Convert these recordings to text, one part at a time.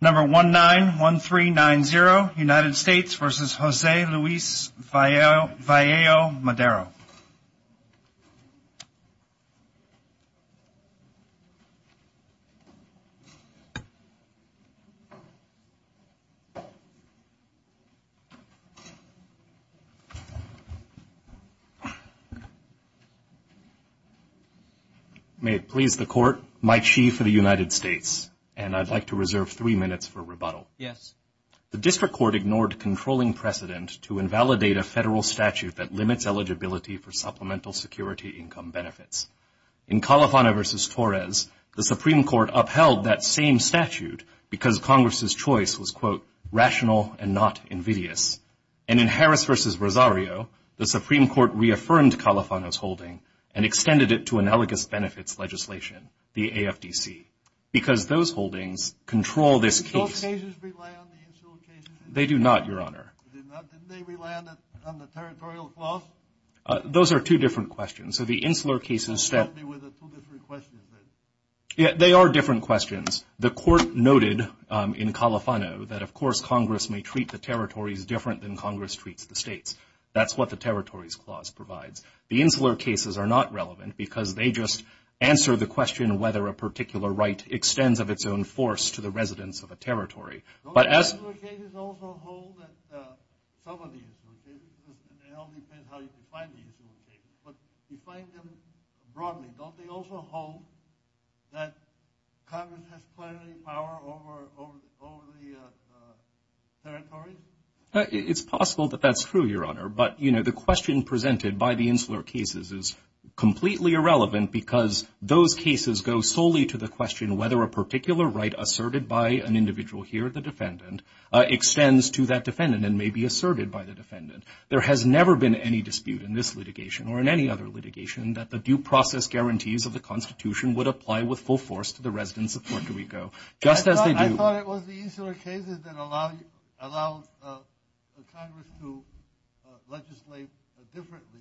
Number 191390, United States v. José Luis Vaello-Madero. May it please the Court, Mike Shee for the United States, and I'd like to reserve three minutes for rebuttal. Yes. The District Court ignored controlling precedent to invalidate a federal statute that limits eligibility for supplemental security income benefits. In Califano v. Torres, the Supreme Court upheld that same statute because Congress' choice was, quote, rational and not invidious. And in Harris v. Rosario, the Supreme Court reaffirmed Califano's holding and extended it to analogous benefits legislation, the AFDC, because those holdings control this case. Do both cases rely on the insular cases? They do not, Your Honor. Do they not? Didn't they rely on the territorial clause? Those are two different questions. So the insular cases... Help me with the two different questions, please. They are different questions. The Court noted in Califano that, of course, Congress may treat the territories different than Congress treats the states. That's what the territories clause provides. The insular cases are not relevant because they just answer the question whether a particular right extends of its own force to the residents of a territory. Don't the insular cases also hold that some of the insular cases, it all depends how you define the insular cases, but define them broadly. Don't they also hold that Congress has plenary power over the territories? It's possible that that's true, Your Honor, but, you know, the question presented by the insular cases is completely irrelevant because those cases go solely to the question whether a particular right asserted by an individual here, the defendant, extends to that defendant and may be asserted by the defendant. There has never been any dispute in this litigation or in any other litigation that the due process guarantees of the Constitution would apply with full force to the residents of Puerto Rico. Just as they do... I thought it was the insular cases that allow Congress to legislate differently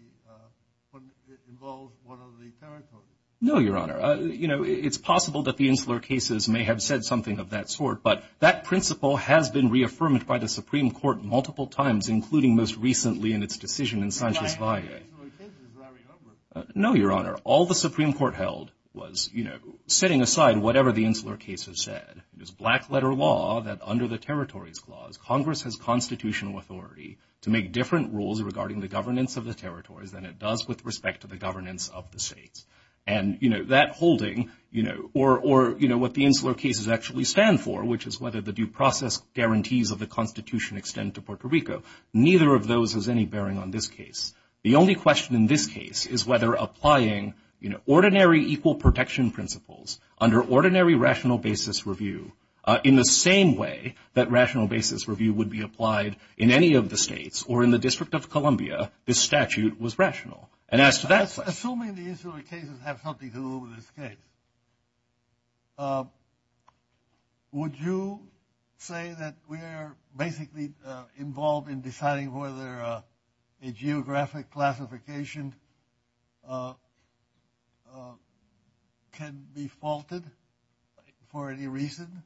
when it involves one of the territories. No, Your Honor. You know, it's possible that the insular cases may have said something of that sort, but that principle has been reaffirmed by the Supreme Court multiple times, including most recently in its decision in Sanchez Valle. No, Your Honor. All the Supreme Court held was, you know, setting aside whatever the insular cases said. It was black letter law that under the territories clause, Congress has constitutional authority to make different rules regarding the governance of the territories than it does with respect to the governance of the states. And, you know, that holding, you know, or, you know, what the insular cases actually stand for, which is whether the due process guarantees of the Constitution extend to Puerto Rico. Neither of those has any bearing on this case. The only question in this case is whether applying, you know, ordinary equal protection principles under ordinary rational basis review in the same way that rational basis review would be applied in any of the states or in the District of Columbia, this statute was rational. And as to that question... Assuming the insular cases have something to do with this case, would you say that we are basically involved in deciding whether a geographic classification can be faulted for any reason?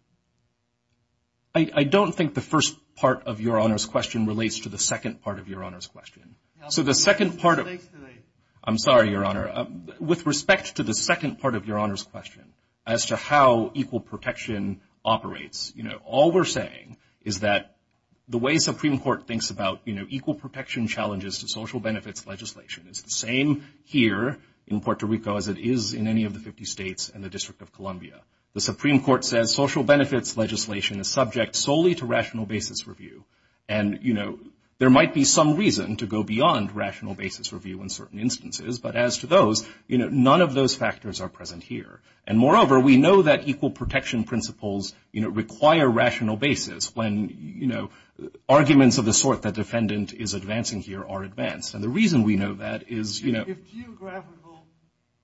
I don't think the first part of Your Honor's question relates to the second part of Your Honor's question. So the second part of... I'm sorry, Your Honor. With respect to the second part of Your Honor's question, as to how equal protection operates, you know, all we're saying is that the way Supreme Court thinks about, you know, equal protection challenges to social benefits legislation is the same here in Puerto Rico as it is in any of the 50 states and the District of Columbia. The Supreme Court says social benefits legislation is subject solely to rational basis review. And, you know, there might be some reason to go beyond rational basis review in certain instances, but as to those, you know, none of those factors are present here. And moreover, we know that equal protection principles, you know, require rational basis when, you know, arguments of the sort that defendant is advancing here are advanced. And the reason we know that is, you know... If a geographical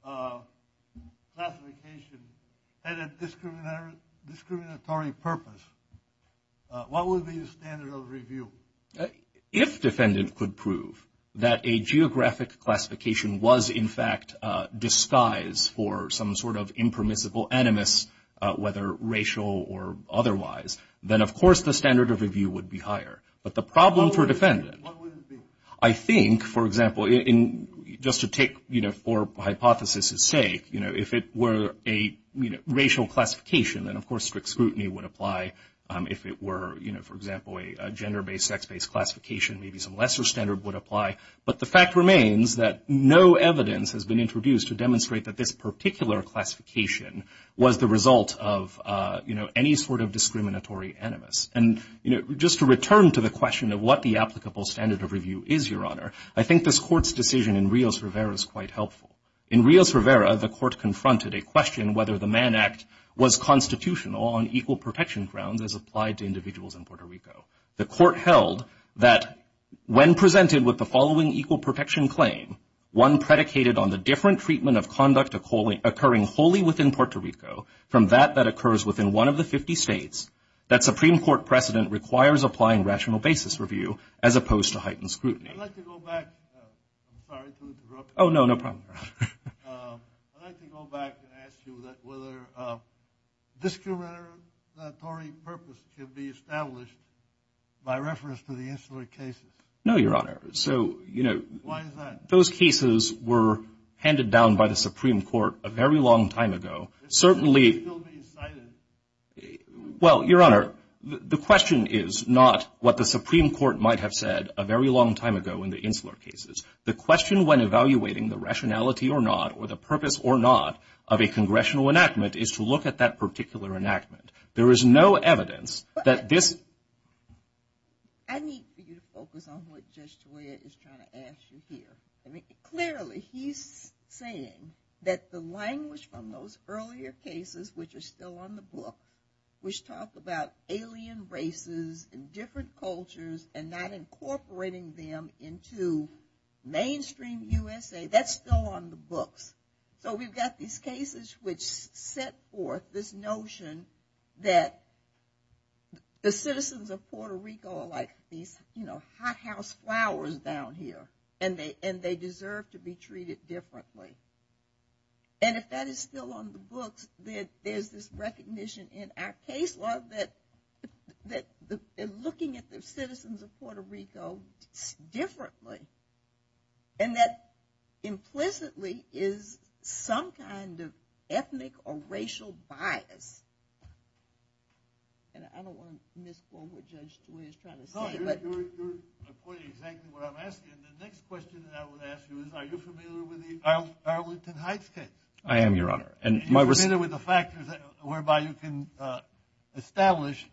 classification had a discriminatory purpose, what would be the standard of review? If defendant could prove that a geographic classification was, in fact, a disguise for some sort of impermissible animus, whether racial or otherwise, then of course the standard of review would be higher. But the problem for defendant... What would it be? I think, for example, just to take, you know, for hypothesis's sake, you know, if it were a racial classification, then of course strict scrutiny would apply if it were, you know, for example, a gender-based, sex-based classification, maybe some lesser standard would apply. But the fact remains that no evidence has been introduced to demonstrate that this particular classification was the result of, you know, any sort of discriminatory animus. And, you know, just to return to the question of what the applicable standard of review is, Your Honor, I think this Court's decision in Rios-Rivera is quite helpful. In Rios-Rivera, the Court confronted a question whether the Mann Act was constitutional on equal protection grounds as applied to individuals in Puerto Rico. The Court held that when presented with the following equal protection claim, one predicated on the different treatment of conduct occurring wholly within Puerto Rico from that that occurs within one of the 50 states, that Supreme Court precedent requires applying rational basis review as opposed to heightened scrutiny. I'd like to go back. I'm sorry to interrupt. Oh, no. No problem, Your Honor. I'd like to go back and ask you whether a discriminatory purpose can be established by reference to the insular cases. No, Your Honor. So, you know. Why is that? Those cases were handed down by the Supreme Court a very long time ago. Certainly. It's still being cited. Well, Your Honor, the question is not what the Supreme Court might have said a very long time ago in the insular cases. The question when evaluating the rationality or not or the purpose or not of a congressional enactment is to look at that particular enactment. There is no evidence that this. I need for you to focus on what Judge Toya is trying to ask you here. Clearly, he's saying that the language from those earlier cases, which are still on the book, which talk about alien races and different cultures and not incorporating them into mainstream USA, that's still on the books. So, we've got these cases which set forth this notion that the citizens of Puerto Rico are like these, you know, hothouse flowers down here, and they deserve to be treated differently. And if that is still on the books, there's this recognition in our case law that they're looking at the citizens of Puerto Rico differently, and that implicitly is some kind of ethnic or racial bias. And I don't want to misquote what Judge Toya is trying to say, but... No, you're quoting exactly what I'm asking. And the next question that I would ask you is, are you familiar with the Arlington Heights case? I am, Your Honor. Are you familiar with the factors whereby you can establish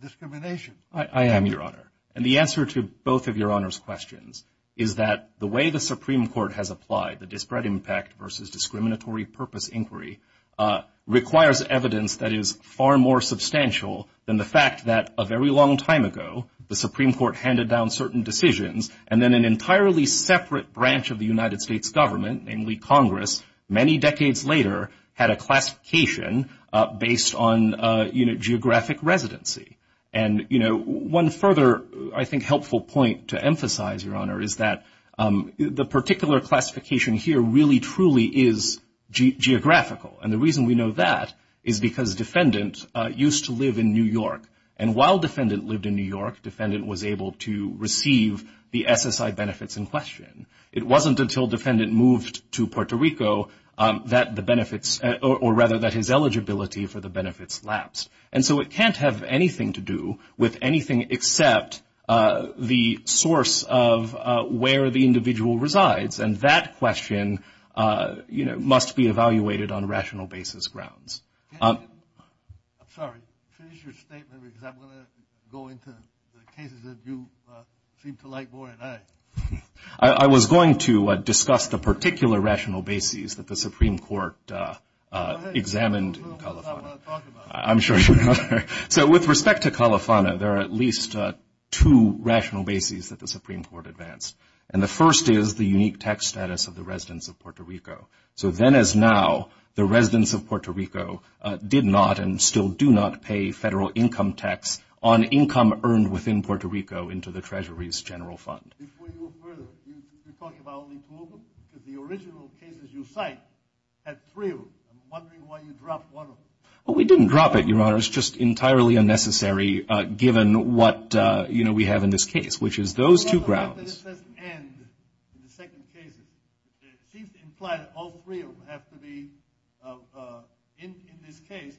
discrimination? I am, Your Honor. And the answer to both of Your Honor's questions is that the way the Supreme Court has applied the disparate impact versus discriminatory purpose inquiry requires evidence that is far more substantial than the fact that a very long time ago, the Supreme Court handed down certain decisions, and then an entirely separate branch of the United States government, namely Congress, many decades later, had a classification based on geographic residency. And one further, I think, helpful point to emphasize, Your Honor, is that the particular classification here really, truly is geographical. And the reason we know that is because Defendant used to live in New York. And while Defendant lived in New York, Defendant was able to receive the SSI benefits in question. It wasn't until Defendant moved to Puerto Rico that the benefits, or rather that his eligibility for the benefits lapsed. And so it can't have anything to do with anything except the source of where the individual resides. And that question, you know, must be evaluated on rational basis grounds. I'm sorry. Finish your statement, because I'm going to go into the cases that you seem to like more than I. I was going to discuss the particular rational bases that the Supreme Court examined in Califano. I'm sure you are. So with respect to Califano, there are at least two rational bases that the Supreme Court advanced. And the first is the unique tax status of the residents of Puerto Rico. So then as now, the residents of Puerto Rico did not, and still do not, pay federal income tax on income earned within Puerto Rico into the Treasury's general fund. Before you go further, you're talking about only two of them, because the original cases you cite had three of them. I'm wondering why you dropped one of them. Well, we didn't drop it, Your Honor. It's just entirely unnecessary given what, you know, we have in this case, which is those two grounds. Well, the fact that this doesn't end in the second case, it seems to imply that all three of them have to be in this case,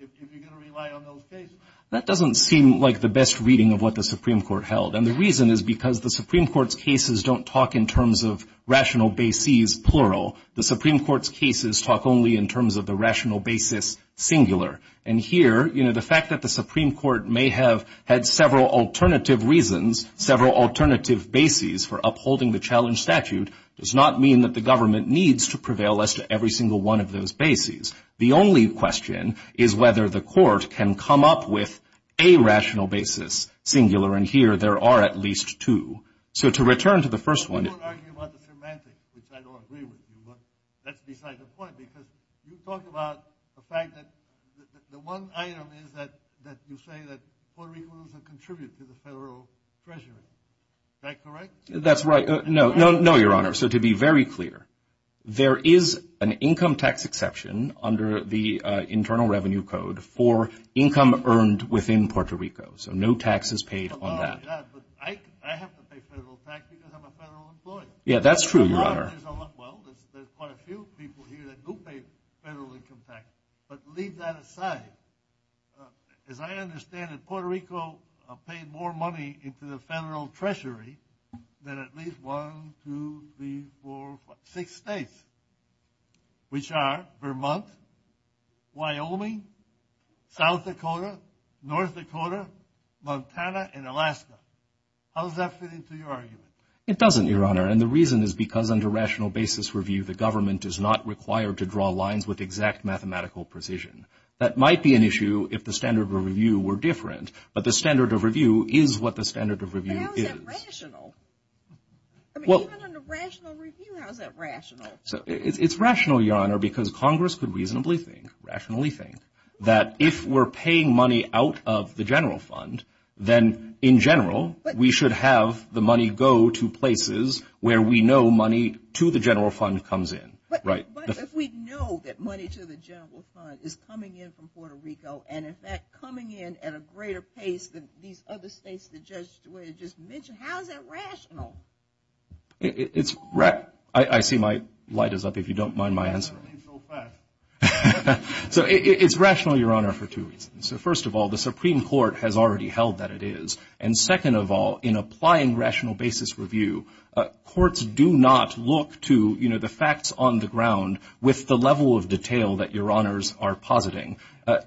if you're going to rely on those cases. That doesn't seem like the best reading of what the Supreme Court held. And the reason is because the Supreme Court's cases don't talk in terms of rational bases, plural. The Supreme Court's cases talk only in terms of the rational basis, singular. And here, you know, the fact that the Supreme Court may have had several alternative reasons, several alternative bases for upholding the challenge statute does not mean that the government needs to prevail as to every single one of those bases. The only question is whether the court can come up with a rational basis, singular. And here, there are at least two. So to return to the first one. I won't argue about the semantics, which I don't agree with you, but that's beside the point, because you talk about the fact that the one item is that you say that Puerto Rican people contribute to the federal treasury, is that correct? That's right. No, no, no, Your Honor. So to be very clear, there is an income tax exception under the Internal Revenue Code for income earned within Puerto Rico. So no tax is paid on that. Oh my God, but I have to pay federal tax because I'm a federal employer. Yeah, that's true, Your Honor. Well, there's quite a few people here that do pay federal income tax, but leave that aside. As I understand it, Puerto Rico paid more money into the federal treasury than at least one, two, three, four, five, six states, which are Vermont, Wyoming, South Dakota, North Dakota, Montana, and Alaska. How does that fit into your argument? It doesn't, Your Honor. And the reason is because under rational basis review, the government is not required to draw lines with exact mathematical precision. That might be an issue if the standard of review were different, but the standard of review is what the standard of review is. But how is that rational? I mean, even under rational review, how is that rational? It's rational, Your Honor, because Congress could reasonably think, rationally think, that if we're paying money out of the general fund, then in general, we should have the money go to places where we know money to the general fund comes in, right? But if we know that money to the general fund is coming in from Puerto Rico, and in fact, coming in at a greater pace than these other states the judge just mentioned, how is that rational? I see my light is up, if you don't mind my answer. That was so fast. So it's rational, Your Honor, for two reasons. So first of all, the Supreme Court has already held that it is. And second of all, in applying rational basis review, courts do not look to the facts on the ground with the level of detail that Your Honors are positing.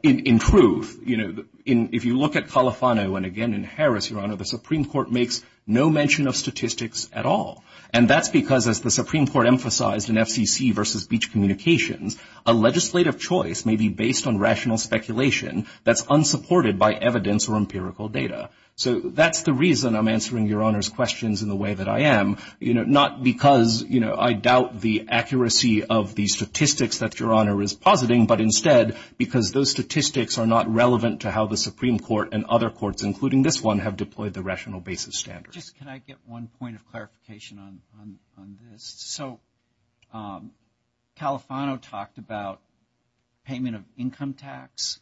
In truth, if you look at Califano, and again in Harris, Your Honor, the Supreme Court makes no mention of statistics at all. And that's because, as the Supreme Court emphasized in FCC v. Beach Communications, a legislative choice may be based on rational speculation that's unsupported by evidence or empirical data. So that's the reason I'm answering Your Honor's questions in the way that I am, not because I doubt the accuracy of the statistics that Your Honor is positing, but instead, because those statistics are not relevant to how the Supreme Court and other courts, including this one, have deployed the rational basis standards. Just can I get one point of clarification on this? So Califano talked about payment of income tax?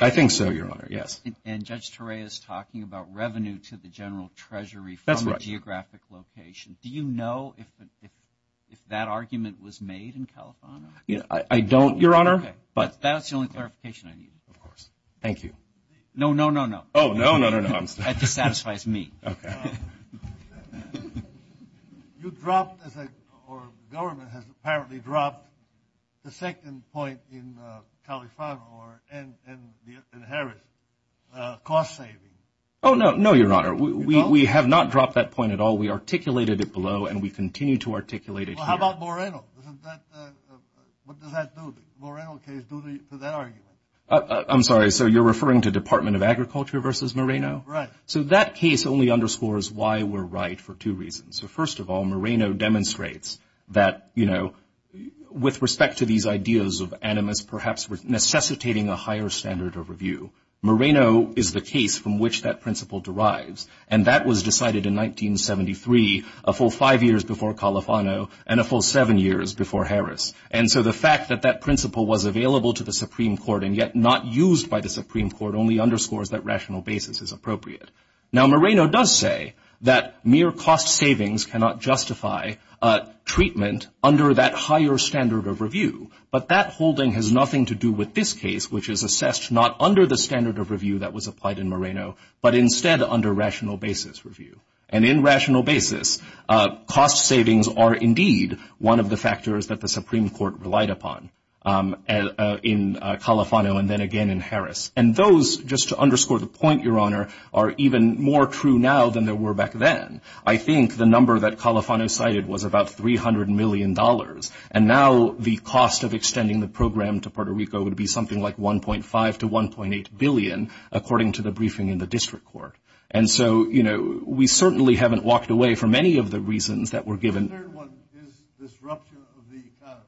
I think so, Your Honor, yes. And Judge Turay is talking about revenue to the General Treasury from a geographic location. Do you know if that argument was made in Califano? I don't, Your Honor. But that's the only clarification I need. Of course. Thank you. No, no, no, no. Oh, no, no, no, no. That dissatisfies me. Okay. You dropped, or the government has apparently dropped the second point in Califano and Harris, cost savings. Oh, no, no, Your Honor. We have not dropped that point at all. We articulated it below, and we continue to articulate it here. Well, how about Moreno? What does that do? The Moreno case is due to that argument. I'm sorry. So you're referring to Department of Agriculture versus Moreno? Right. So that case only underscores why we're right for two reasons. So first of all, Moreno demonstrates that, you know, with respect to these ideas of animus perhaps necessitating a higher standard of review, Moreno is the case from which that principle derives. And that was decided in 1973, a full five years before Califano, and a full seven years before Harris. And so the fact that that principle was available to the Supreme Court and yet not used by the Supreme Court only underscores that rational basis is appropriate. Now Moreno does say that mere cost savings cannot justify treatment under that higher standard of review. But that holding has nothing to do with this case, which is assessed not under the standard of review that was applied in Moreno, but instead under rational basis review. And in rational basis, cost savings are indeed one of the factors that the Supreme Court relied upon in Califano and then again in Harris. And those, just to underscore the point, Your Honor, are even more true now than they were back then. I think the number that Califano cited was about $300 million. And now the cost of extending the program to Puerto Rico would be something like $1.5 to $1.8 billion, according to the briefing in the district court. And so, you know, we certainly haven't walked away from any of the reasons that were given. The third one is disruption of the economy.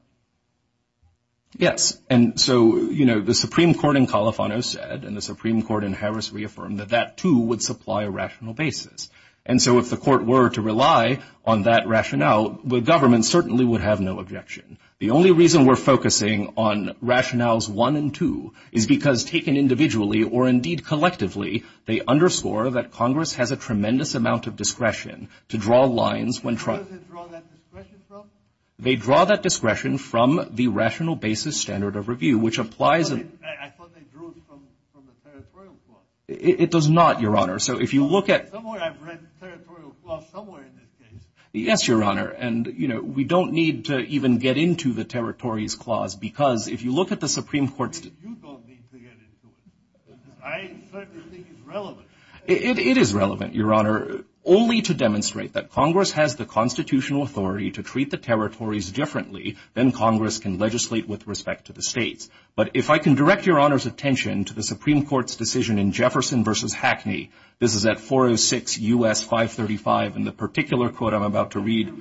Yes. And so, you know, the Supreme Court in Califano said, and the Supreme Court in Harris reaffirmed that that too would supply a rational basis. And so if the court were to rely on that rationale, the government certainly would have no objection. The only reason we're focusing on rationales one and two is because taken individually or indeed collectively, they underscore that Congress has a tremendous amount of discretion to draw lines when trying to draw that discretion from the rational basis standard of review, which applies. It does not, Your Honor. So if you look at the way I've read, yes, Your Honor, and you know, we don't need to get into the territories clause, because if you look at the Supreme Court's... You don't need to get into it. I certainly think it's relevant. It is relevant, Your Honor, only to demonstrate that Congress has the constitutional authority to treat the territories differently than Congress can legislate with respect to the states. But if I can direct Your Honor's attention to the Supreme Court's decision in Jefferson v. Hackney, this is at 406 U.S. 535, and the particular quote I'm about to read...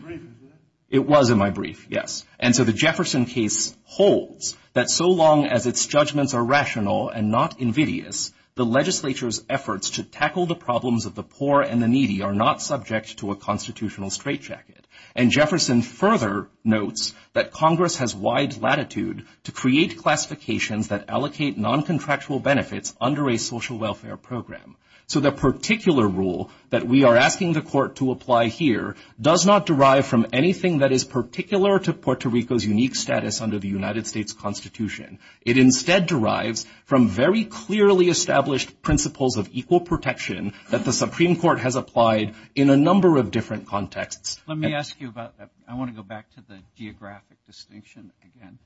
It was in your brief, isn't it? And so the Jefferson case holds that so long as its judgments are rational and not invidious, the legislature's efforts to tackle the problems of the poor and the needy are not subject to a constitutional straitjacket. And Jefferson further notes that Congress has wide latitude to create classifications that allocate noncontractual benefits under a social welfare program. So the particular rule that we are asking the court to apply here does not derive from anything that is particular to Puerto Rico's unique status under the United States Constitution. It instead derives from very clearly established principles of equal protection that the Supreme Court has applied in a number of different contexts. Let me ask you about that. I want to go back to the geographic distinction again.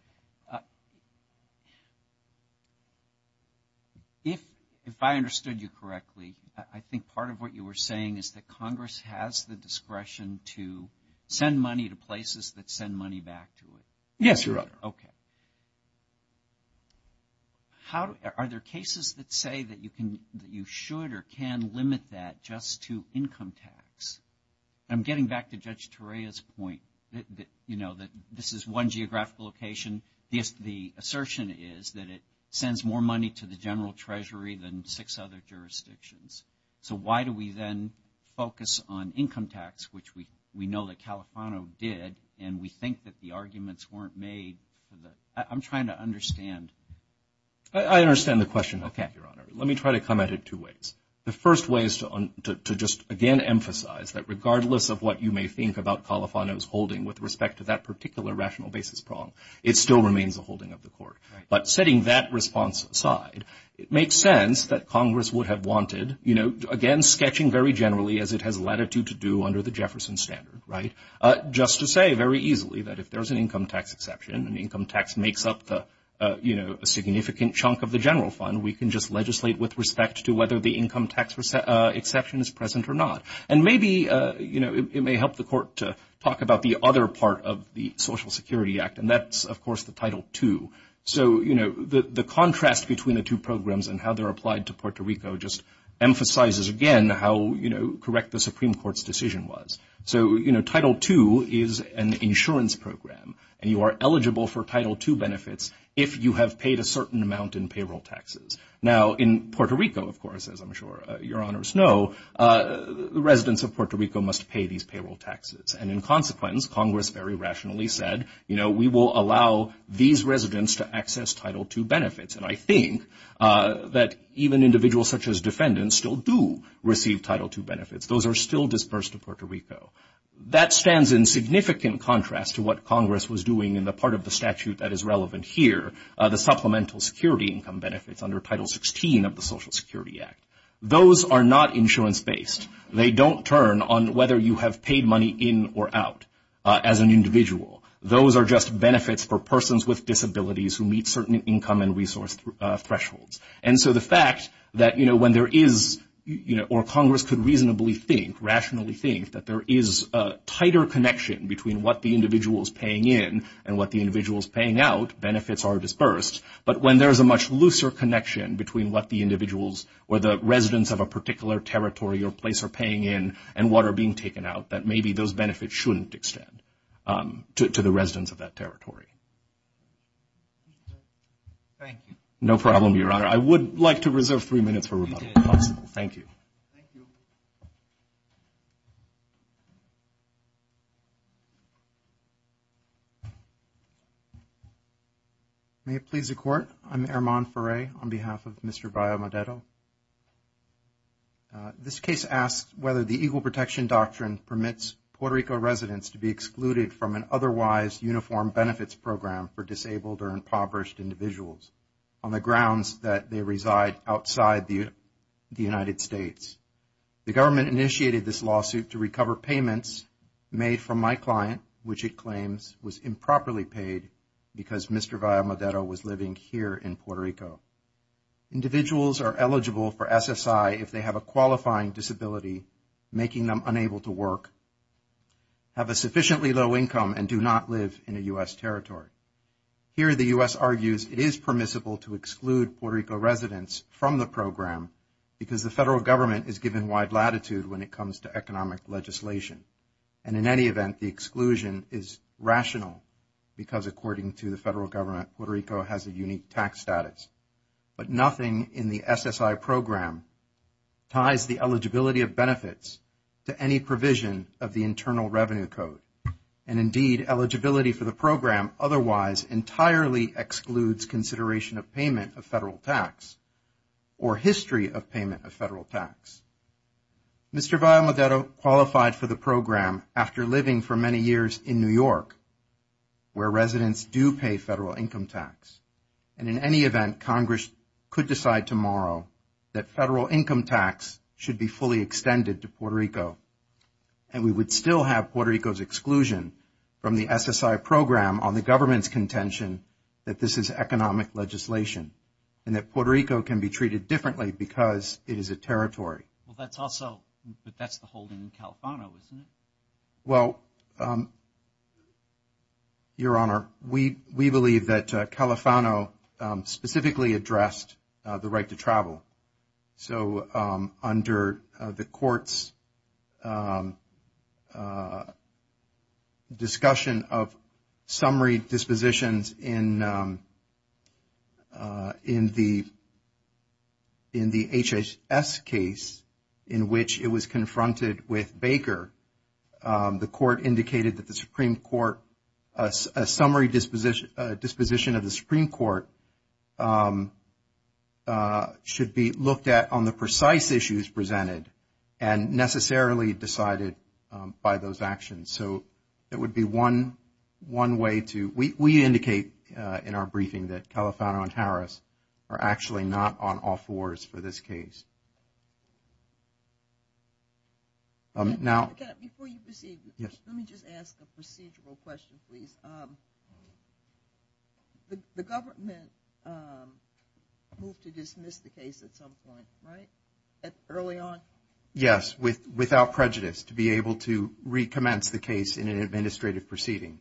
If I understood you correctly, I think part of what you were saying is that Congress has the discretion to send money to places that send money back to it. Yes, Your Honor. Okay. Are there cases that say that you should or can limit that just to income tax? I'm getting back to Judge Torreya's point, you know, that this is one geographical location. The assertion is that it sends more money to the general treasury than six other jurisdictions. So why do we then focus on income tax, which we know that Califano did, and we think that the arguments weren't made for the – I'm trying to understand. I understand the question, Your Honor. Let me try to comment in two ways. The first way is to just, again, emphasize that regardless of what you may think about Califano's holding with respect to that particular rational basis prong, it still remains a holding of the court. But setting that response aside, it makes sense that Congress would have wanted, you know, again, sketching very generally as it has latitude to do under the Jefferson standard, right? Just to say very easily that if there's an income tax exception and income tax makes up the, you know, a significant chunk of the general fund, we can just legislate with respect to whether the income tax exception is present or not. And maybe, you know, it may help the court to talk about the other part of the Social Security Act, and that's, of course, the Title II. So, you know, the contrast between the two programs and how they're applied to Puerto Rico just emphasizes, again, how, you know, correct the Supreme Court's decision was. So, you know, Title II is an insurance program, and you are eligible for Title II benefits if you have paid a certain amount in payroll taxes. Now, in Puerto Rico, of course, as I'm sure Your Honors know, the residents of Puerto Rico must pay these payroll taxes. And in consequence, Congress very rationally said, you know, we will allow these residents to access Title II benefits. And I think that even individuals such as defendants still do receive Title II benefits. Those are still dispersed in Puerto Rico. That stands in significant contrast to what Congress was doing in the part of the statute that is relevant here, the supplemental security income benefits under Title XVI of the Social Security Act. Those are not insurance-based. They don't turn on whether you have paid money in or out as an individual. Those are just benefits for persons with disabilities who meet certain income and resource thresholds. And so the fact that, you know, when there is, you know, or Congress could reasonably think, rationally think that there is a tighter connection between what the individual is paying in and what the individual is paying out, benefits are dispersed. But when there is a much looser connection between what the individuals or the residents of a particular territory or place are paying in and what are being taken out, that maybe those benefits shouldn't extend to the residents of that territory. Thank you. No problem, Your Honor. I would like to reserve three minutes for rebuttal, if possible. Thank you. Thank you. May it please the Court, I'm Armand Furet on behalf of Mr. Bayo-Modeto. This case asks whether the Equal Protection Doctrine permits Puerto Rico residents to be excluded from an otherwise uniform benefits program for disabled or impoverished individuals on the grounds that they reside outside the United States. The government initiated this lawsuit to recover payments made from my client, which it claims was improperly paid because Mr. Bayo-Modeto was living here in Puerto Rico. Individuals are eligible for SSI if they have a qualifying disability, making them unable to work, have a sufficiently low income and do not live in a U.S. territory. Here, the U.S. argues it is permissible to exclude Puerto Rico residents from the program because the federal government is given wide latitude when it comes to economic legislation. And in any event, the exclusion is rational because according to the federal government, Puerto Rico has a unique tax status. But nothing in the SSI program ties the eligibility of benefits to any provision of the Internal Revenue Code. And indeed, eligibility for the program otherwise entirely excludes consideration of payment of federal tax or history of payment of federal tax. Mr. Bayo-Modeto qualified for the program after living for many years in New York, where residents do pay federal income tax. And in any event, Congress could decide tomorrow that federal income tax should be fully extended to Puerto Rico. And we would still have Puerto Rico's exclusion from the SSI program on the government's contention that this is economic legislation and that Puerto Rico can be treated differently because it is a territory. Well, that's also, but that's the holding in Califano, isn't it? Well, Your Honor, we believe that Califano specifically addressed the right to travel. So under the court's discussion of summary dispositions in the HHS case, in which it was confronted with Baker, the court indicated that the Supreme Court, a summary disposition of the Supreme Court should be looked at on the precise issues presented and necessarily decided by those actions. So it would be one way to, we indicate in our briefing that Califano and Harris are actually not on all fours for this case. Now- Before you proceed, let me just ask a procedural question, please. The government moved to dismiss the case at some point, right? Early on? Yes, without prejudice, to be able to recommence the case in an administrative proceeding.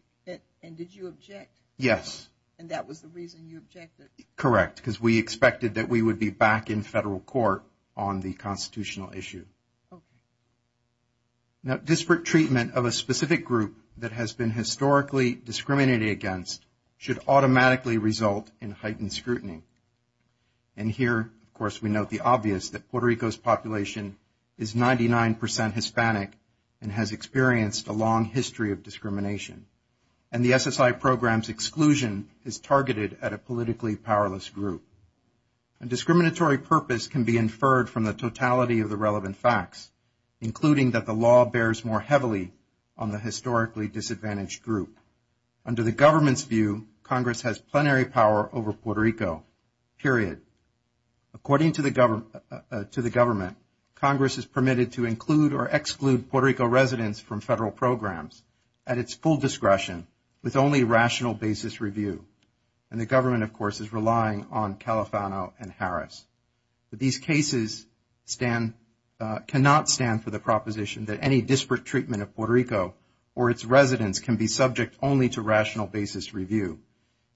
And did you object? Yes. And that was the reason you objected? Correct, because we expected that we would be back in federal court on the constitutional issue. Okay. Now, disparate treatment of a specific group that has been historically discriminated against should automatically result in heightened scrutiny. And here, of course, we note the obvious that Puerto Rico's population is 99 percent Hispanic and has experienced a long history of discrimination. And the SSI program's exclusion is targeted at a politically powerless group. A discriminatory purpose can be inferred from the totality of the relevant facts, including that the law bears more heavily on the historically disadvantaged group. Under the government's view, Congress has plenary power over Puerto Rico, period. According to the government, Congress is permitted to include or exclude Puerto Rico residents from federal programs at its full discretion with only rational basis review. And the government, of course, is relying on Califano and Harris. But these cases cannot stand for the proposition that any disparate treatment of Puerto Rico or its residents can be subject only to rational basis review.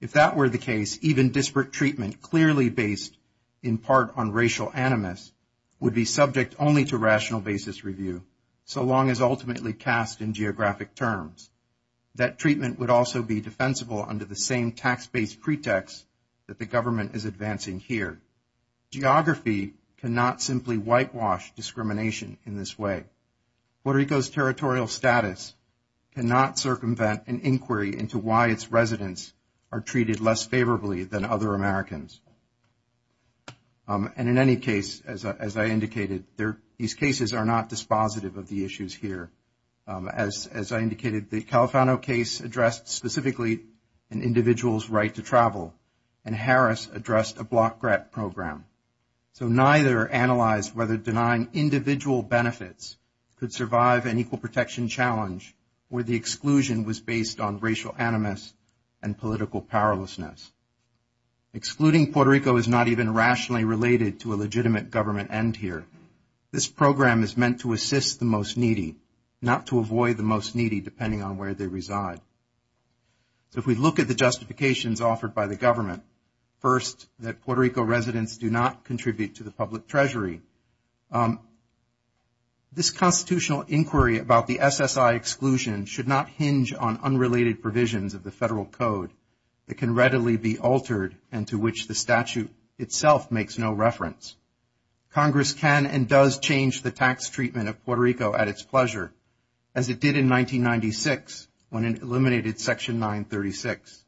If that were the case, even disparate treatment clearly based in part on racial animus would be subject only to rational basis review, so long as ultimately cast in geographic terms. That treatment would also be defensible under the same tax-based pretext that the government is advancing here. Geography cannot simply whitewash discrimination in this way. Puerto Rico's territorial status cannot circumvent an inquiry into why its residents are treated less favorably than other Americans. And in any case, as I indicated, these cases are not dispositive of the issues here. As I indicated, the Califano case addressed specifically an individual's right to travel, and Harris addressed a block grant program. So neither analyzed whether denying individual benefits could survive an equal protection challenge where the exclusion was based on racial animus and political powerlessness. Excluding Puerto Rico is not even rationally related to a legitimate government end here. This program is meant to assist the most needy, not to avoid the most needy depending on where they reside. So if we look at the justifications offered by the government, first, that Puerto Rico residents do not contribute to the public treasury. This constitutional inquiry about the SSI exclusion should not hinge on unrelated provisions of the federal code that can readily be altered and to which the statute itself makes no reference. Congress can and does change the tax treatment of Puerto Rico at its pleasure, as it did in 1996 when it eliminated Section 936,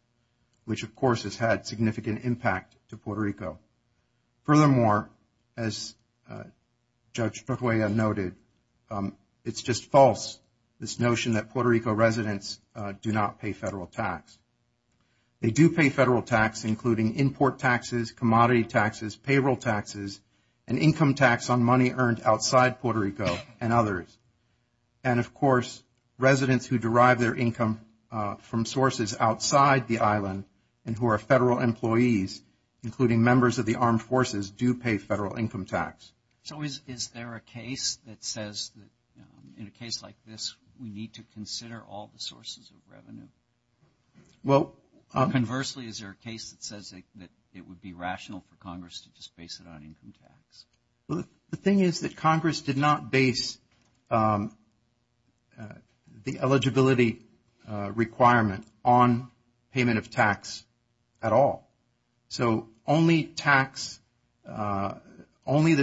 which of course has had significant impact to Puerto Rico. Furthermore, as Judge Trujillo noted, it's just false this notion that Puerto Rico residents do not pay federal tax. They do pay federal tax, including import taxes, commodity taxes, payroll taxes, and income tax on money earned outside Puerto Rico and others. And of course, residents who derive their income from sources outside the island and who are federal employees, including members of the armed forces, do pay federal income tax. So is there a case that says that in a case like this, we need to consider all the sources of revenue? Conversely, is there a case that says that it would be rational for Congress to just base it on income tax? Well, the thing is that Congress did not base the eligibility requirement on payment of tax at all. So only tax, in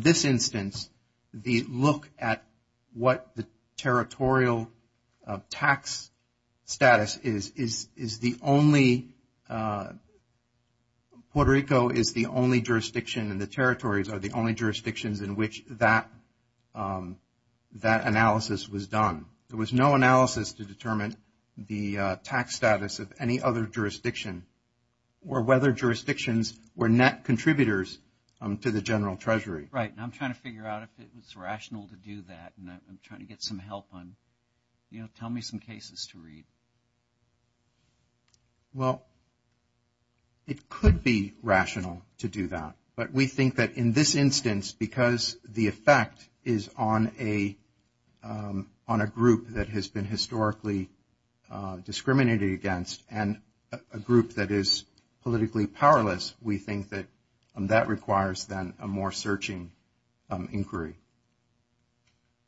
this instance, the look at what the territorial tax status is the only, Puerto Rico is the only jurisdiction and the territories are the only jurisdictions in which that analysis was done. There was no analysis to determine the tax status of any other jurisdiction or whether jurisdictions were net contributors to the general treasury. Right. And I'm trying to figure out if it was rational to do that. And I'm trying to get some help on, you know, tell me some cases to read. Well, it could be rational to do that. But we think that in this instance, because the effect is on a group that has been historically discriminated against and a group that is politically powerless, we think that that requires then a more searching inquiry.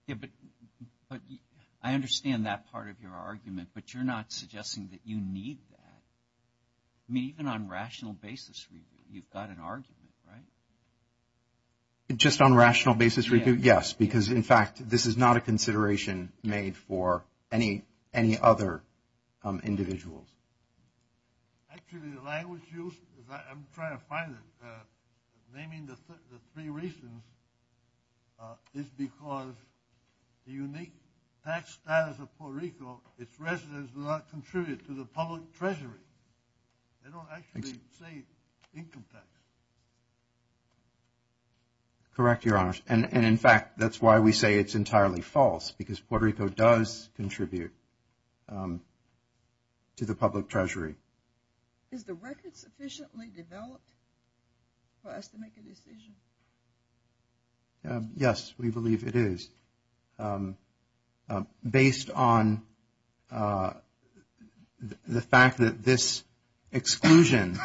Yeah, but I understand that part of your argument, but you're not suggesting that you need that. I mean, even on rational basis, you've got an argument, right? Just on rational basis? Yes, because in fact, this is not a consideration made for any other individuals. Actually, the language used, I'm trying to find it, naming the three reasons is because the unique tax status of Puerto Rico, its residents do not contribute to the public treasury. They don't actually save income tax. Correct, Your Honor. And in fact, that's why we say it's entirely false, because Puerto Rico does contribute to the public treasury. Is the record sufficiently developed for us to make a decision? Yes, we believe it is. And based on the fact that this exclusion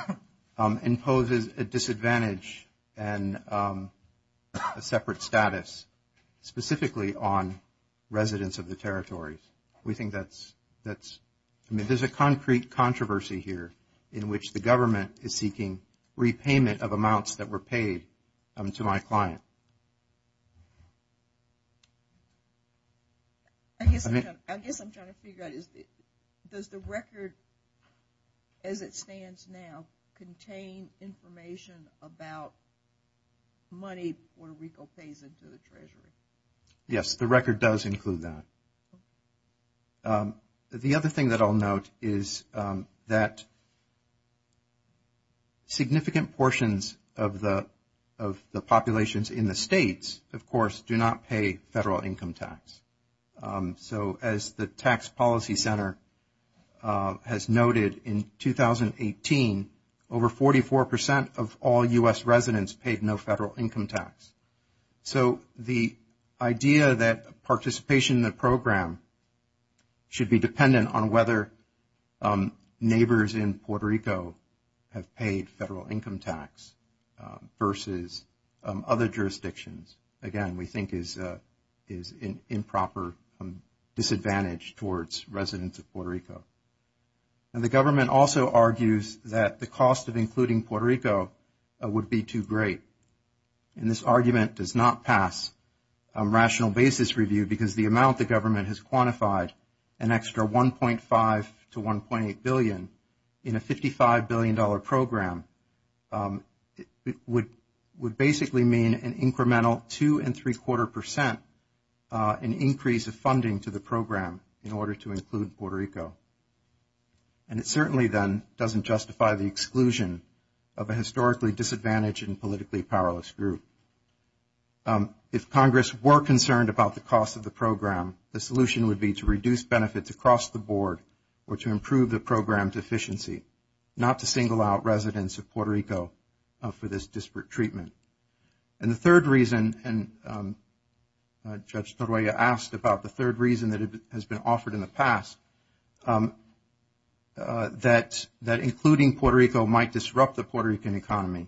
imposes a disadvantage and a separate status, specifically on residents of the territories. We think that's, I mean, there's a concrete controversy here in which the government is seeking repayment of amounts that were paid to my client. I guess I'm trying to figure out, does the record, as it stands now, contain information about money Puerto Rico pays into the treasury? Yes, the record does include that. The other thing that I'll note is that significant portions of the populations in the states, of course, do not pay federal income tax. So as the Tax Policy Center has noted in 2018, over 44% of all U.S. residents paid no federal income tax. So the idea that participation in the program should be dependent on whether neighbors in Puerto Rico have paid federal income tax versus other jurisdictions. Again, we think is an improper disadvantage towards residents of Puerto Rico. And the government also argues that the cost of including Puerto Rico would be too great. And this argument does not pass a rational basis review because the amount the government has quantified an extra 1.5 to 1.8 billion in a $55 billion program would basically mean an incremental 2.75% increase of funding to the program in order to include Puerto Rico. And it certainly then doesn't justify the exclusion of a historically disadvantaged and politically powerless group. If Congress were concerned about the cost of the program, the solution would be to reduce benefits across the board or to improve the program deficiency, not to single out residents of Puerto Rico for this disparate treatment. And the third reason, and Judge Torolla asked about the third reason that has been offered in the past, that including Puerto Rico might disrupt the Puerto Rican economy.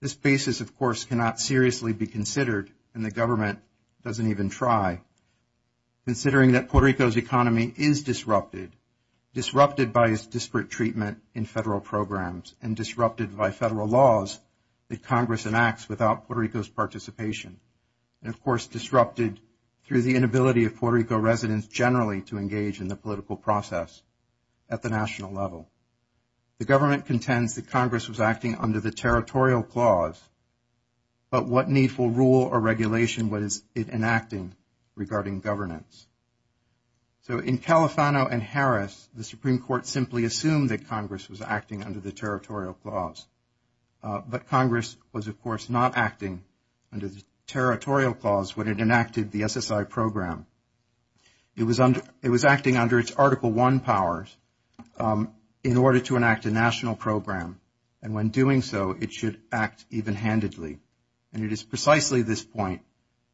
This basis, of course, cannot seriously be considered and the government doesn't even try. Considering that Puerto Rico's economy is disrupted, disrupted by its disparate treatment in federal programs and disrupted by federal laws that Congress enacts without Puerto Rico's participation. And of course, disrupted through the inability of Puerto Rico residents generally to engage in the political process at the national level. The government contends that Congress was acting under the territorial clause, but what needful rule or regulation was it enacting regarding governance? So in Califano and Harris, the Supreme Court simply assumed that Congress was acting under the territorial clause. But Congress was, of course, not acting under the territorial clause when it enacted the SSI program. It was acting under its Article I powers in order to enact a national program. And when doing so, it should act even-handedly. And it is precisely this point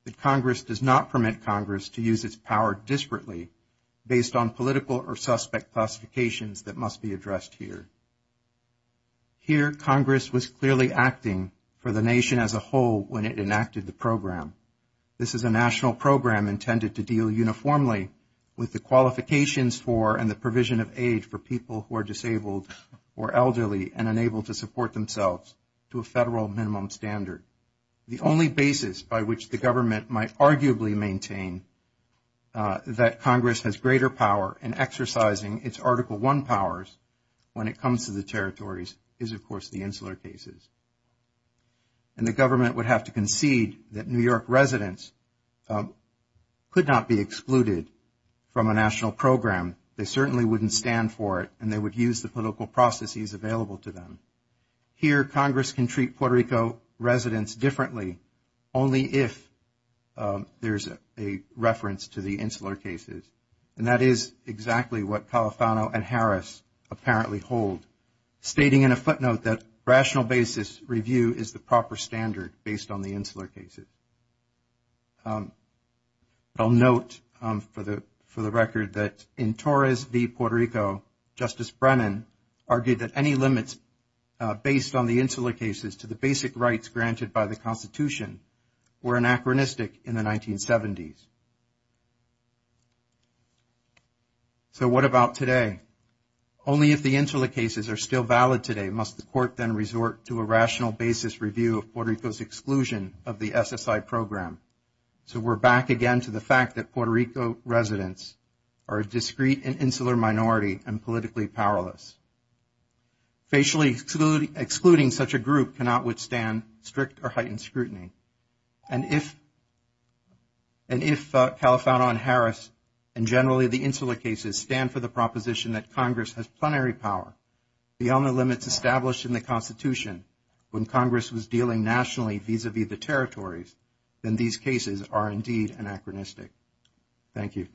that Congress does not permit Congress to use its power disparately based on political or suspect classifications that must be addressed here. Here, Congress was clearly acting for the nation as a whole when it enacted the program. This is a national program intended to deal uniformly with the qualifications for and the provision of aid for people who are disabled or elderly and unable to support themselves to a federal minimum standard. The only basis by which the government might arguably maintain that Congress has greater power in exercising its Article I powers when it comes to the territories is, of course, the insular cases. And the government would have to concede that New York residents could not be excluded from a national program. They certainly wouldn't stand for it and they use the political processes available to them. Here, Congress can treat Puerto Rico residents differently only if there's a reference to the insular cases. And that is exactly what Califano and Harris apparently hold, stating in a footnote that rational basis review is the proper standard based on the insular cases. I'll note for the record that in Torres v. Puerto Rico, Justice Brennan argued that any limits based on the insular cases to the basic rights granted by the Constitution were anachronistic in the 1970s. So what about today? Only if the insular cases are still valid today must the court then resort to a rational basis review of Puerto Rico's exclusion of the SSI program. So we're back again to the fact that Puerto Rico residents are a discrete insular minority and politically powerless. Facially excluding such a group cannot withstand strict or heightened scrutiny. And if Califano and Harris, and generally the insular cases, stand for the proposition that Congress has plenary power beyond the limits established in the Constitution when Congress was dealing nationally vis-a-vis the territories, then these cases are indeed anachronistic. Thank you.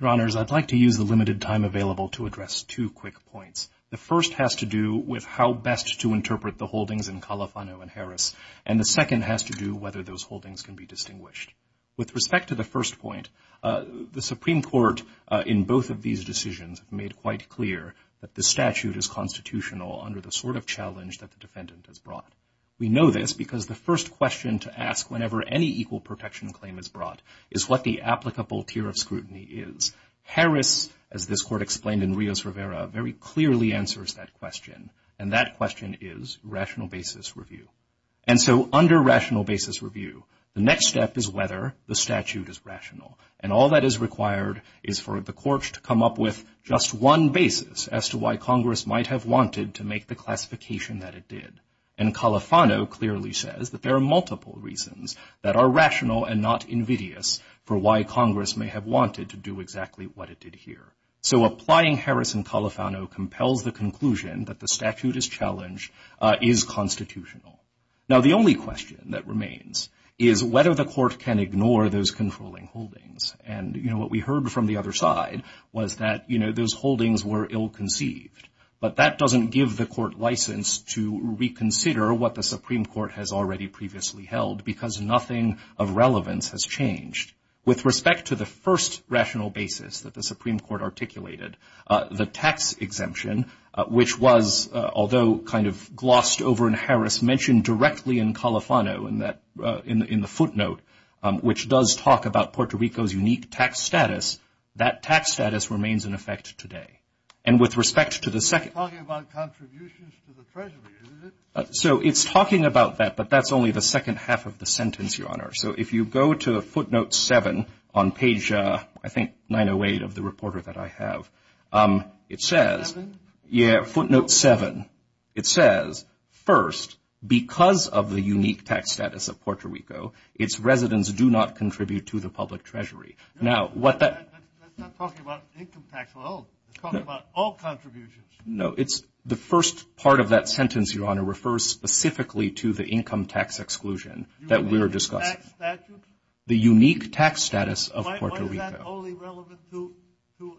Your Honors, I'd like to use the limited time available to address two quick points. The first has to do with how best to interpret the holdings in Califano and Harris, and the second has to do whether those holdings can be distinguished. With respect to the first point, the Supreme Court in both of these decisions have made quite clear that the statute is constitutional under the sort of challenge that the defendant has brought. We know this because the first question to ask whenever any equal protection claim is brought is what the applicable tier of scrutiny is. Harris, as this court explained in Rios-Rivera, very clearly answers that question, and that question is rational basis review. And so under rational basis review, the next step is whether the statute is rational. And all that is required is for the courts to come up with just one basis as to why Congress might have wanted to make the classification that it did. And Califano clearly says that there are multiple reasons that are rational and not invidious for why Congress may have wanted to do exactly what it did here. So applying Harris and Califano compels the conclusion that the statute is rational and that the challenge is constitutional. Now, the only question that remains is whether the court can ignore those controlling holdings. And, you know, what we heard from the other side was that, you know, those holdings were ill-conceived. But that doesn't give the court license to reconsider what the Supreme Court has already previously held because nothing of relevance has changed. With respect to the first rational basis that the Supreme Court articulated, the tax exemption, which was, although kind of glossed over in Harris, mentioned directly in Califano in the footnote, which does talk about Puerto Rico's unique tax status, that tax status remains in effect today. And with respect to the second- You're talking about contributions to the treasury, isn't it? So it's talking about that, but that's only the second half of the sentence, Your Honor. So if you go to footnote 7 on page, I think, 908 of the reporter that I have, it says- Seven? Yeah, footnote 7. It says, first, because of the unique tax status of Puerto Rico, its residents do not contribute to the public treasury. Now, what that- That's not talking about income tax alone. It's talking about all contributions. No, it's the first part of that sentence, Your Honor, refers specifically to the income tax exclusion that we were discussing. The unique tax status of Puerto Rico. Why is that only relevant to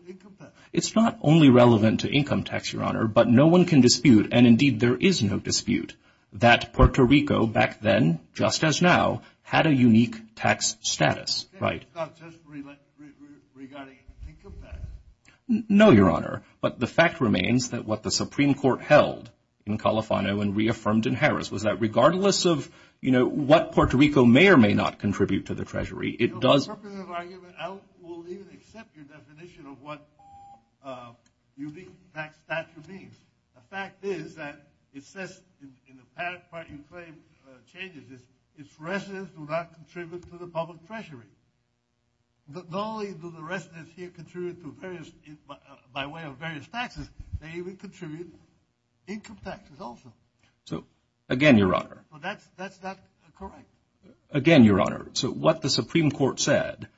income tax? It's not only relevant to income tax, Your Honor, but no one can dispute, and indeed, there is no dispute, that Puerto Rico back then, just as now, had a unique tax status, right? It's not just regarding income tax? No, Your Honor, but the fact remains that what the Supreme Court held in Califano and reaffirmed in Treasury, it does- On purpose of argument, I will even accept your definition of what unique tax stature means. The fact is that it says in the part you claim changes is, its residents do not contribute to the public treasury. Not only do the residents here contribute to various- by way of various taxes, they even contribute income taxes also. So, again, Your Honor- So, that's not correct. Again, Your Honor, so what the Supreme Court said,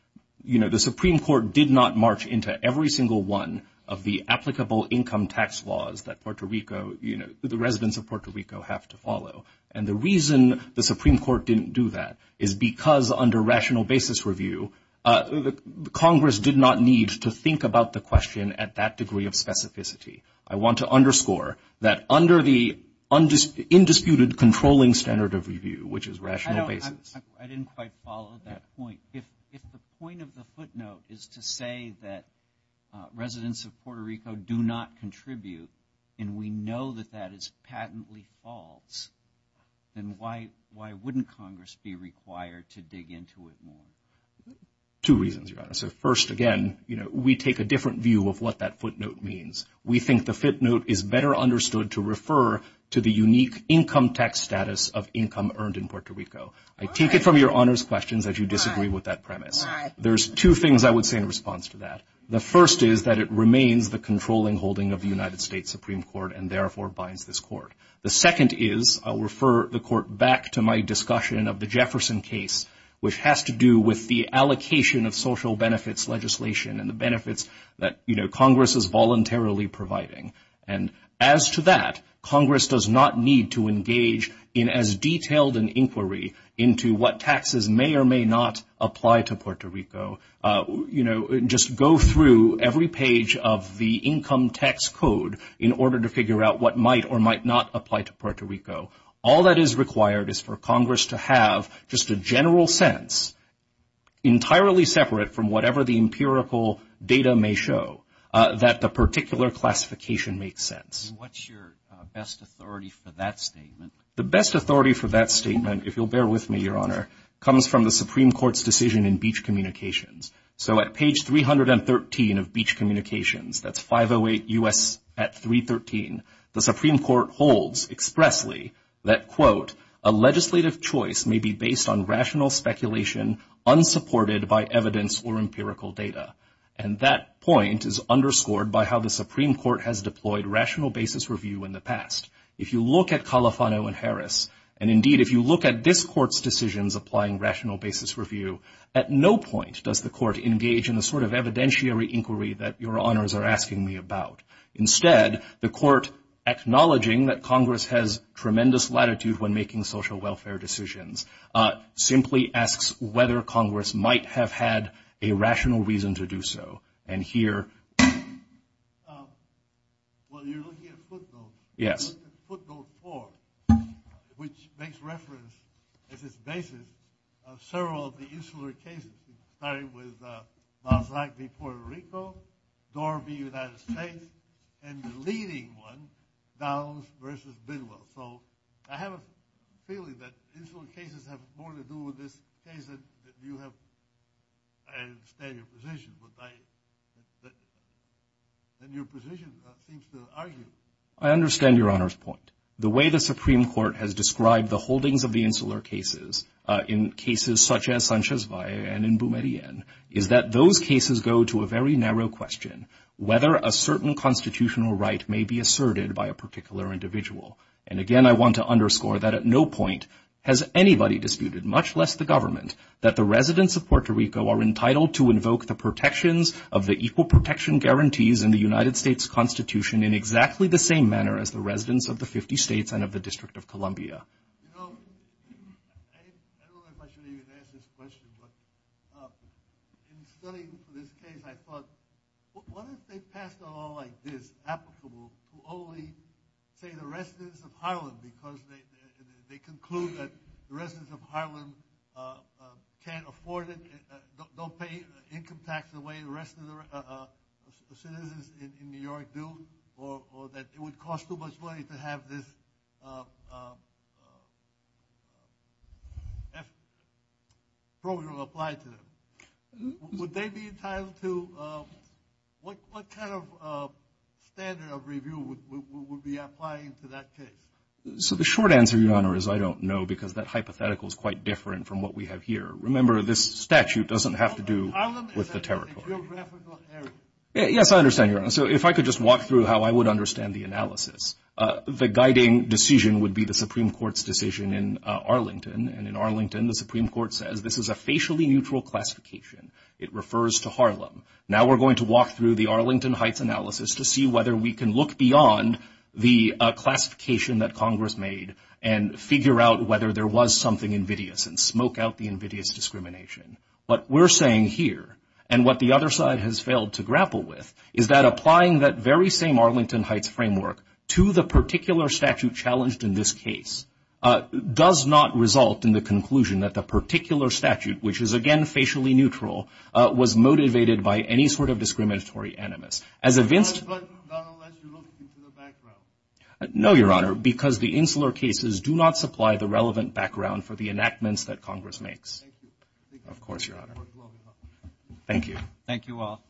you know, the Supreme Court did not march into every single one of the applicable income tax laws that Puerto Rico, you know, the residents of Puerto Rico have to follow. And the reason the Supreme Court didn't do that is because under rational basis review, Congress did not need to think about the question at that degree of specificity. I want to underscore that under the undisputed controlling standard of review, which is- I didn't quite follow that point. If the point of the footnote is to say that residents of Puerto Rico do not contribute, and we know that that is patently false, then why wouldn't Congress be required to dig into it more? Two reasons, Your Honor. So, first, again, you know, we take a different view of what that footnote means. We think the footnote is better understood to refer to the unique income tax status of I take it from Your Honor's questions that you disagree with that premise. There's two things I would say in response to that. The first is that it remains the controlling holding of the United States Supreme Court and therefore binds this court. The second is, I'll refer the court back to my discussion of the Jefferson case, which has to do with the allocation of social benefits legislation and the benefits that, you know, Congress is voluntarily providing. And as to that, Congress does not need to engage in as detailed an inquiry into what taxes may or may not apply to Puerto Rico. You know, just go through every page of the income tax code in order to figure out what might or might not apply to Puerto Rico. All that is required is for Congress to have just a general sense, entirely separate from whatever the empirical data may show, that the particular classification makes sense. And what's your best authority for that statement? The best authority for that statement, if you'll bear with me, Your Honor, comes from the Supreme Court's decision in Beach Communications. So at page 313 of Beach Communications, that's 508 U.S. at 313, the Supreme Court holds expressly that, quote, a legislative choice may be based on rational speculation unsupported by evidence or empirical data. And that point is underscored by how the Supreme Court has deployed rational basis review in the past. If you look at Califano and Harris, and indeed if you look at this Court's decisions applying rational basis review, at no point does the Court engage in the sort of evidentiary inquiry that Your Honors are asking me about. Instead, the Court, acknowledging that Congress has tremendous latitude when making social have had a rational reason to do so. And here... Well, you're looking at footnotes. Yes. Footnote 4, which makes reference as its basis of several of the insular cases, starting with Moss Lack v. Puerto Rico, Dorby v. United States, and the leading one, Downs v. Bidwell. So I have a feeling that insular cases have more to do with this case that you have... I understand your position, but I... And your position seems to argue... I understand Your Honor's point. The way the Supreme Court has described the holdings of the insular cases in cases such as Sanchez Valle and in Bumerian is that those cases go to a very narrow question, whether a certain constitutional right may be asserted by a particular individual. And again, I want to underscore that at no point has anybody disputed, much less the government, that the residents of Puerto Rico are entitled to invoke the protections of the equal protection guarantees in the United States Constitution in exactly the same manner as the residents of the 50 states and of the District of Columbia. You know, I don't know if I should even ask this question, but in studying this case, I thought, what if they passed a law like this applicable to only, say, the residents of Harlem because they conclude that the residents of Harlem can't afford it, don't pay income tax the way the rest of the citizens in New York do, or that it would cost too much money to have this program applied to them? Would they be entitled to, what kind of standard of review would we be applying to that case? So the short answer, Your Honor, is I don't know because that hypothetical is quite different from what we have here. Remember, this statute doesn't have to do with the territory. Harlem is a geographical area. Yes, I understand, Your Honor. So if I could just walk through how I would understand the analysis, the guiding decision would be the Supreme Court's decision in Arlington. And in Arlington, the Supreme Court says this is a facially neutral classification. It refers to Harlem. Now we're going to walk through the Arlington Heights analysis to see whether we can look beyond the classification that Congress made and figure out whether there was something invidious and smoke out the invidious discrimination. What we're saying here and what the other side has failed to grapple with is that applying that very same Arlington Heights framework to the particular statute challenged in this case does not result in the conclusion that the particular statute, which is, again, facially neutral, was motivated by any sort of discriminatory animus. As a vince— But not unless you look into the background. No, Your Honor, because the Insular Cases do not supply the relevant background for the enactments that Congress makes. Thank you. Of course, Your Honor. Thank you. Thank you all.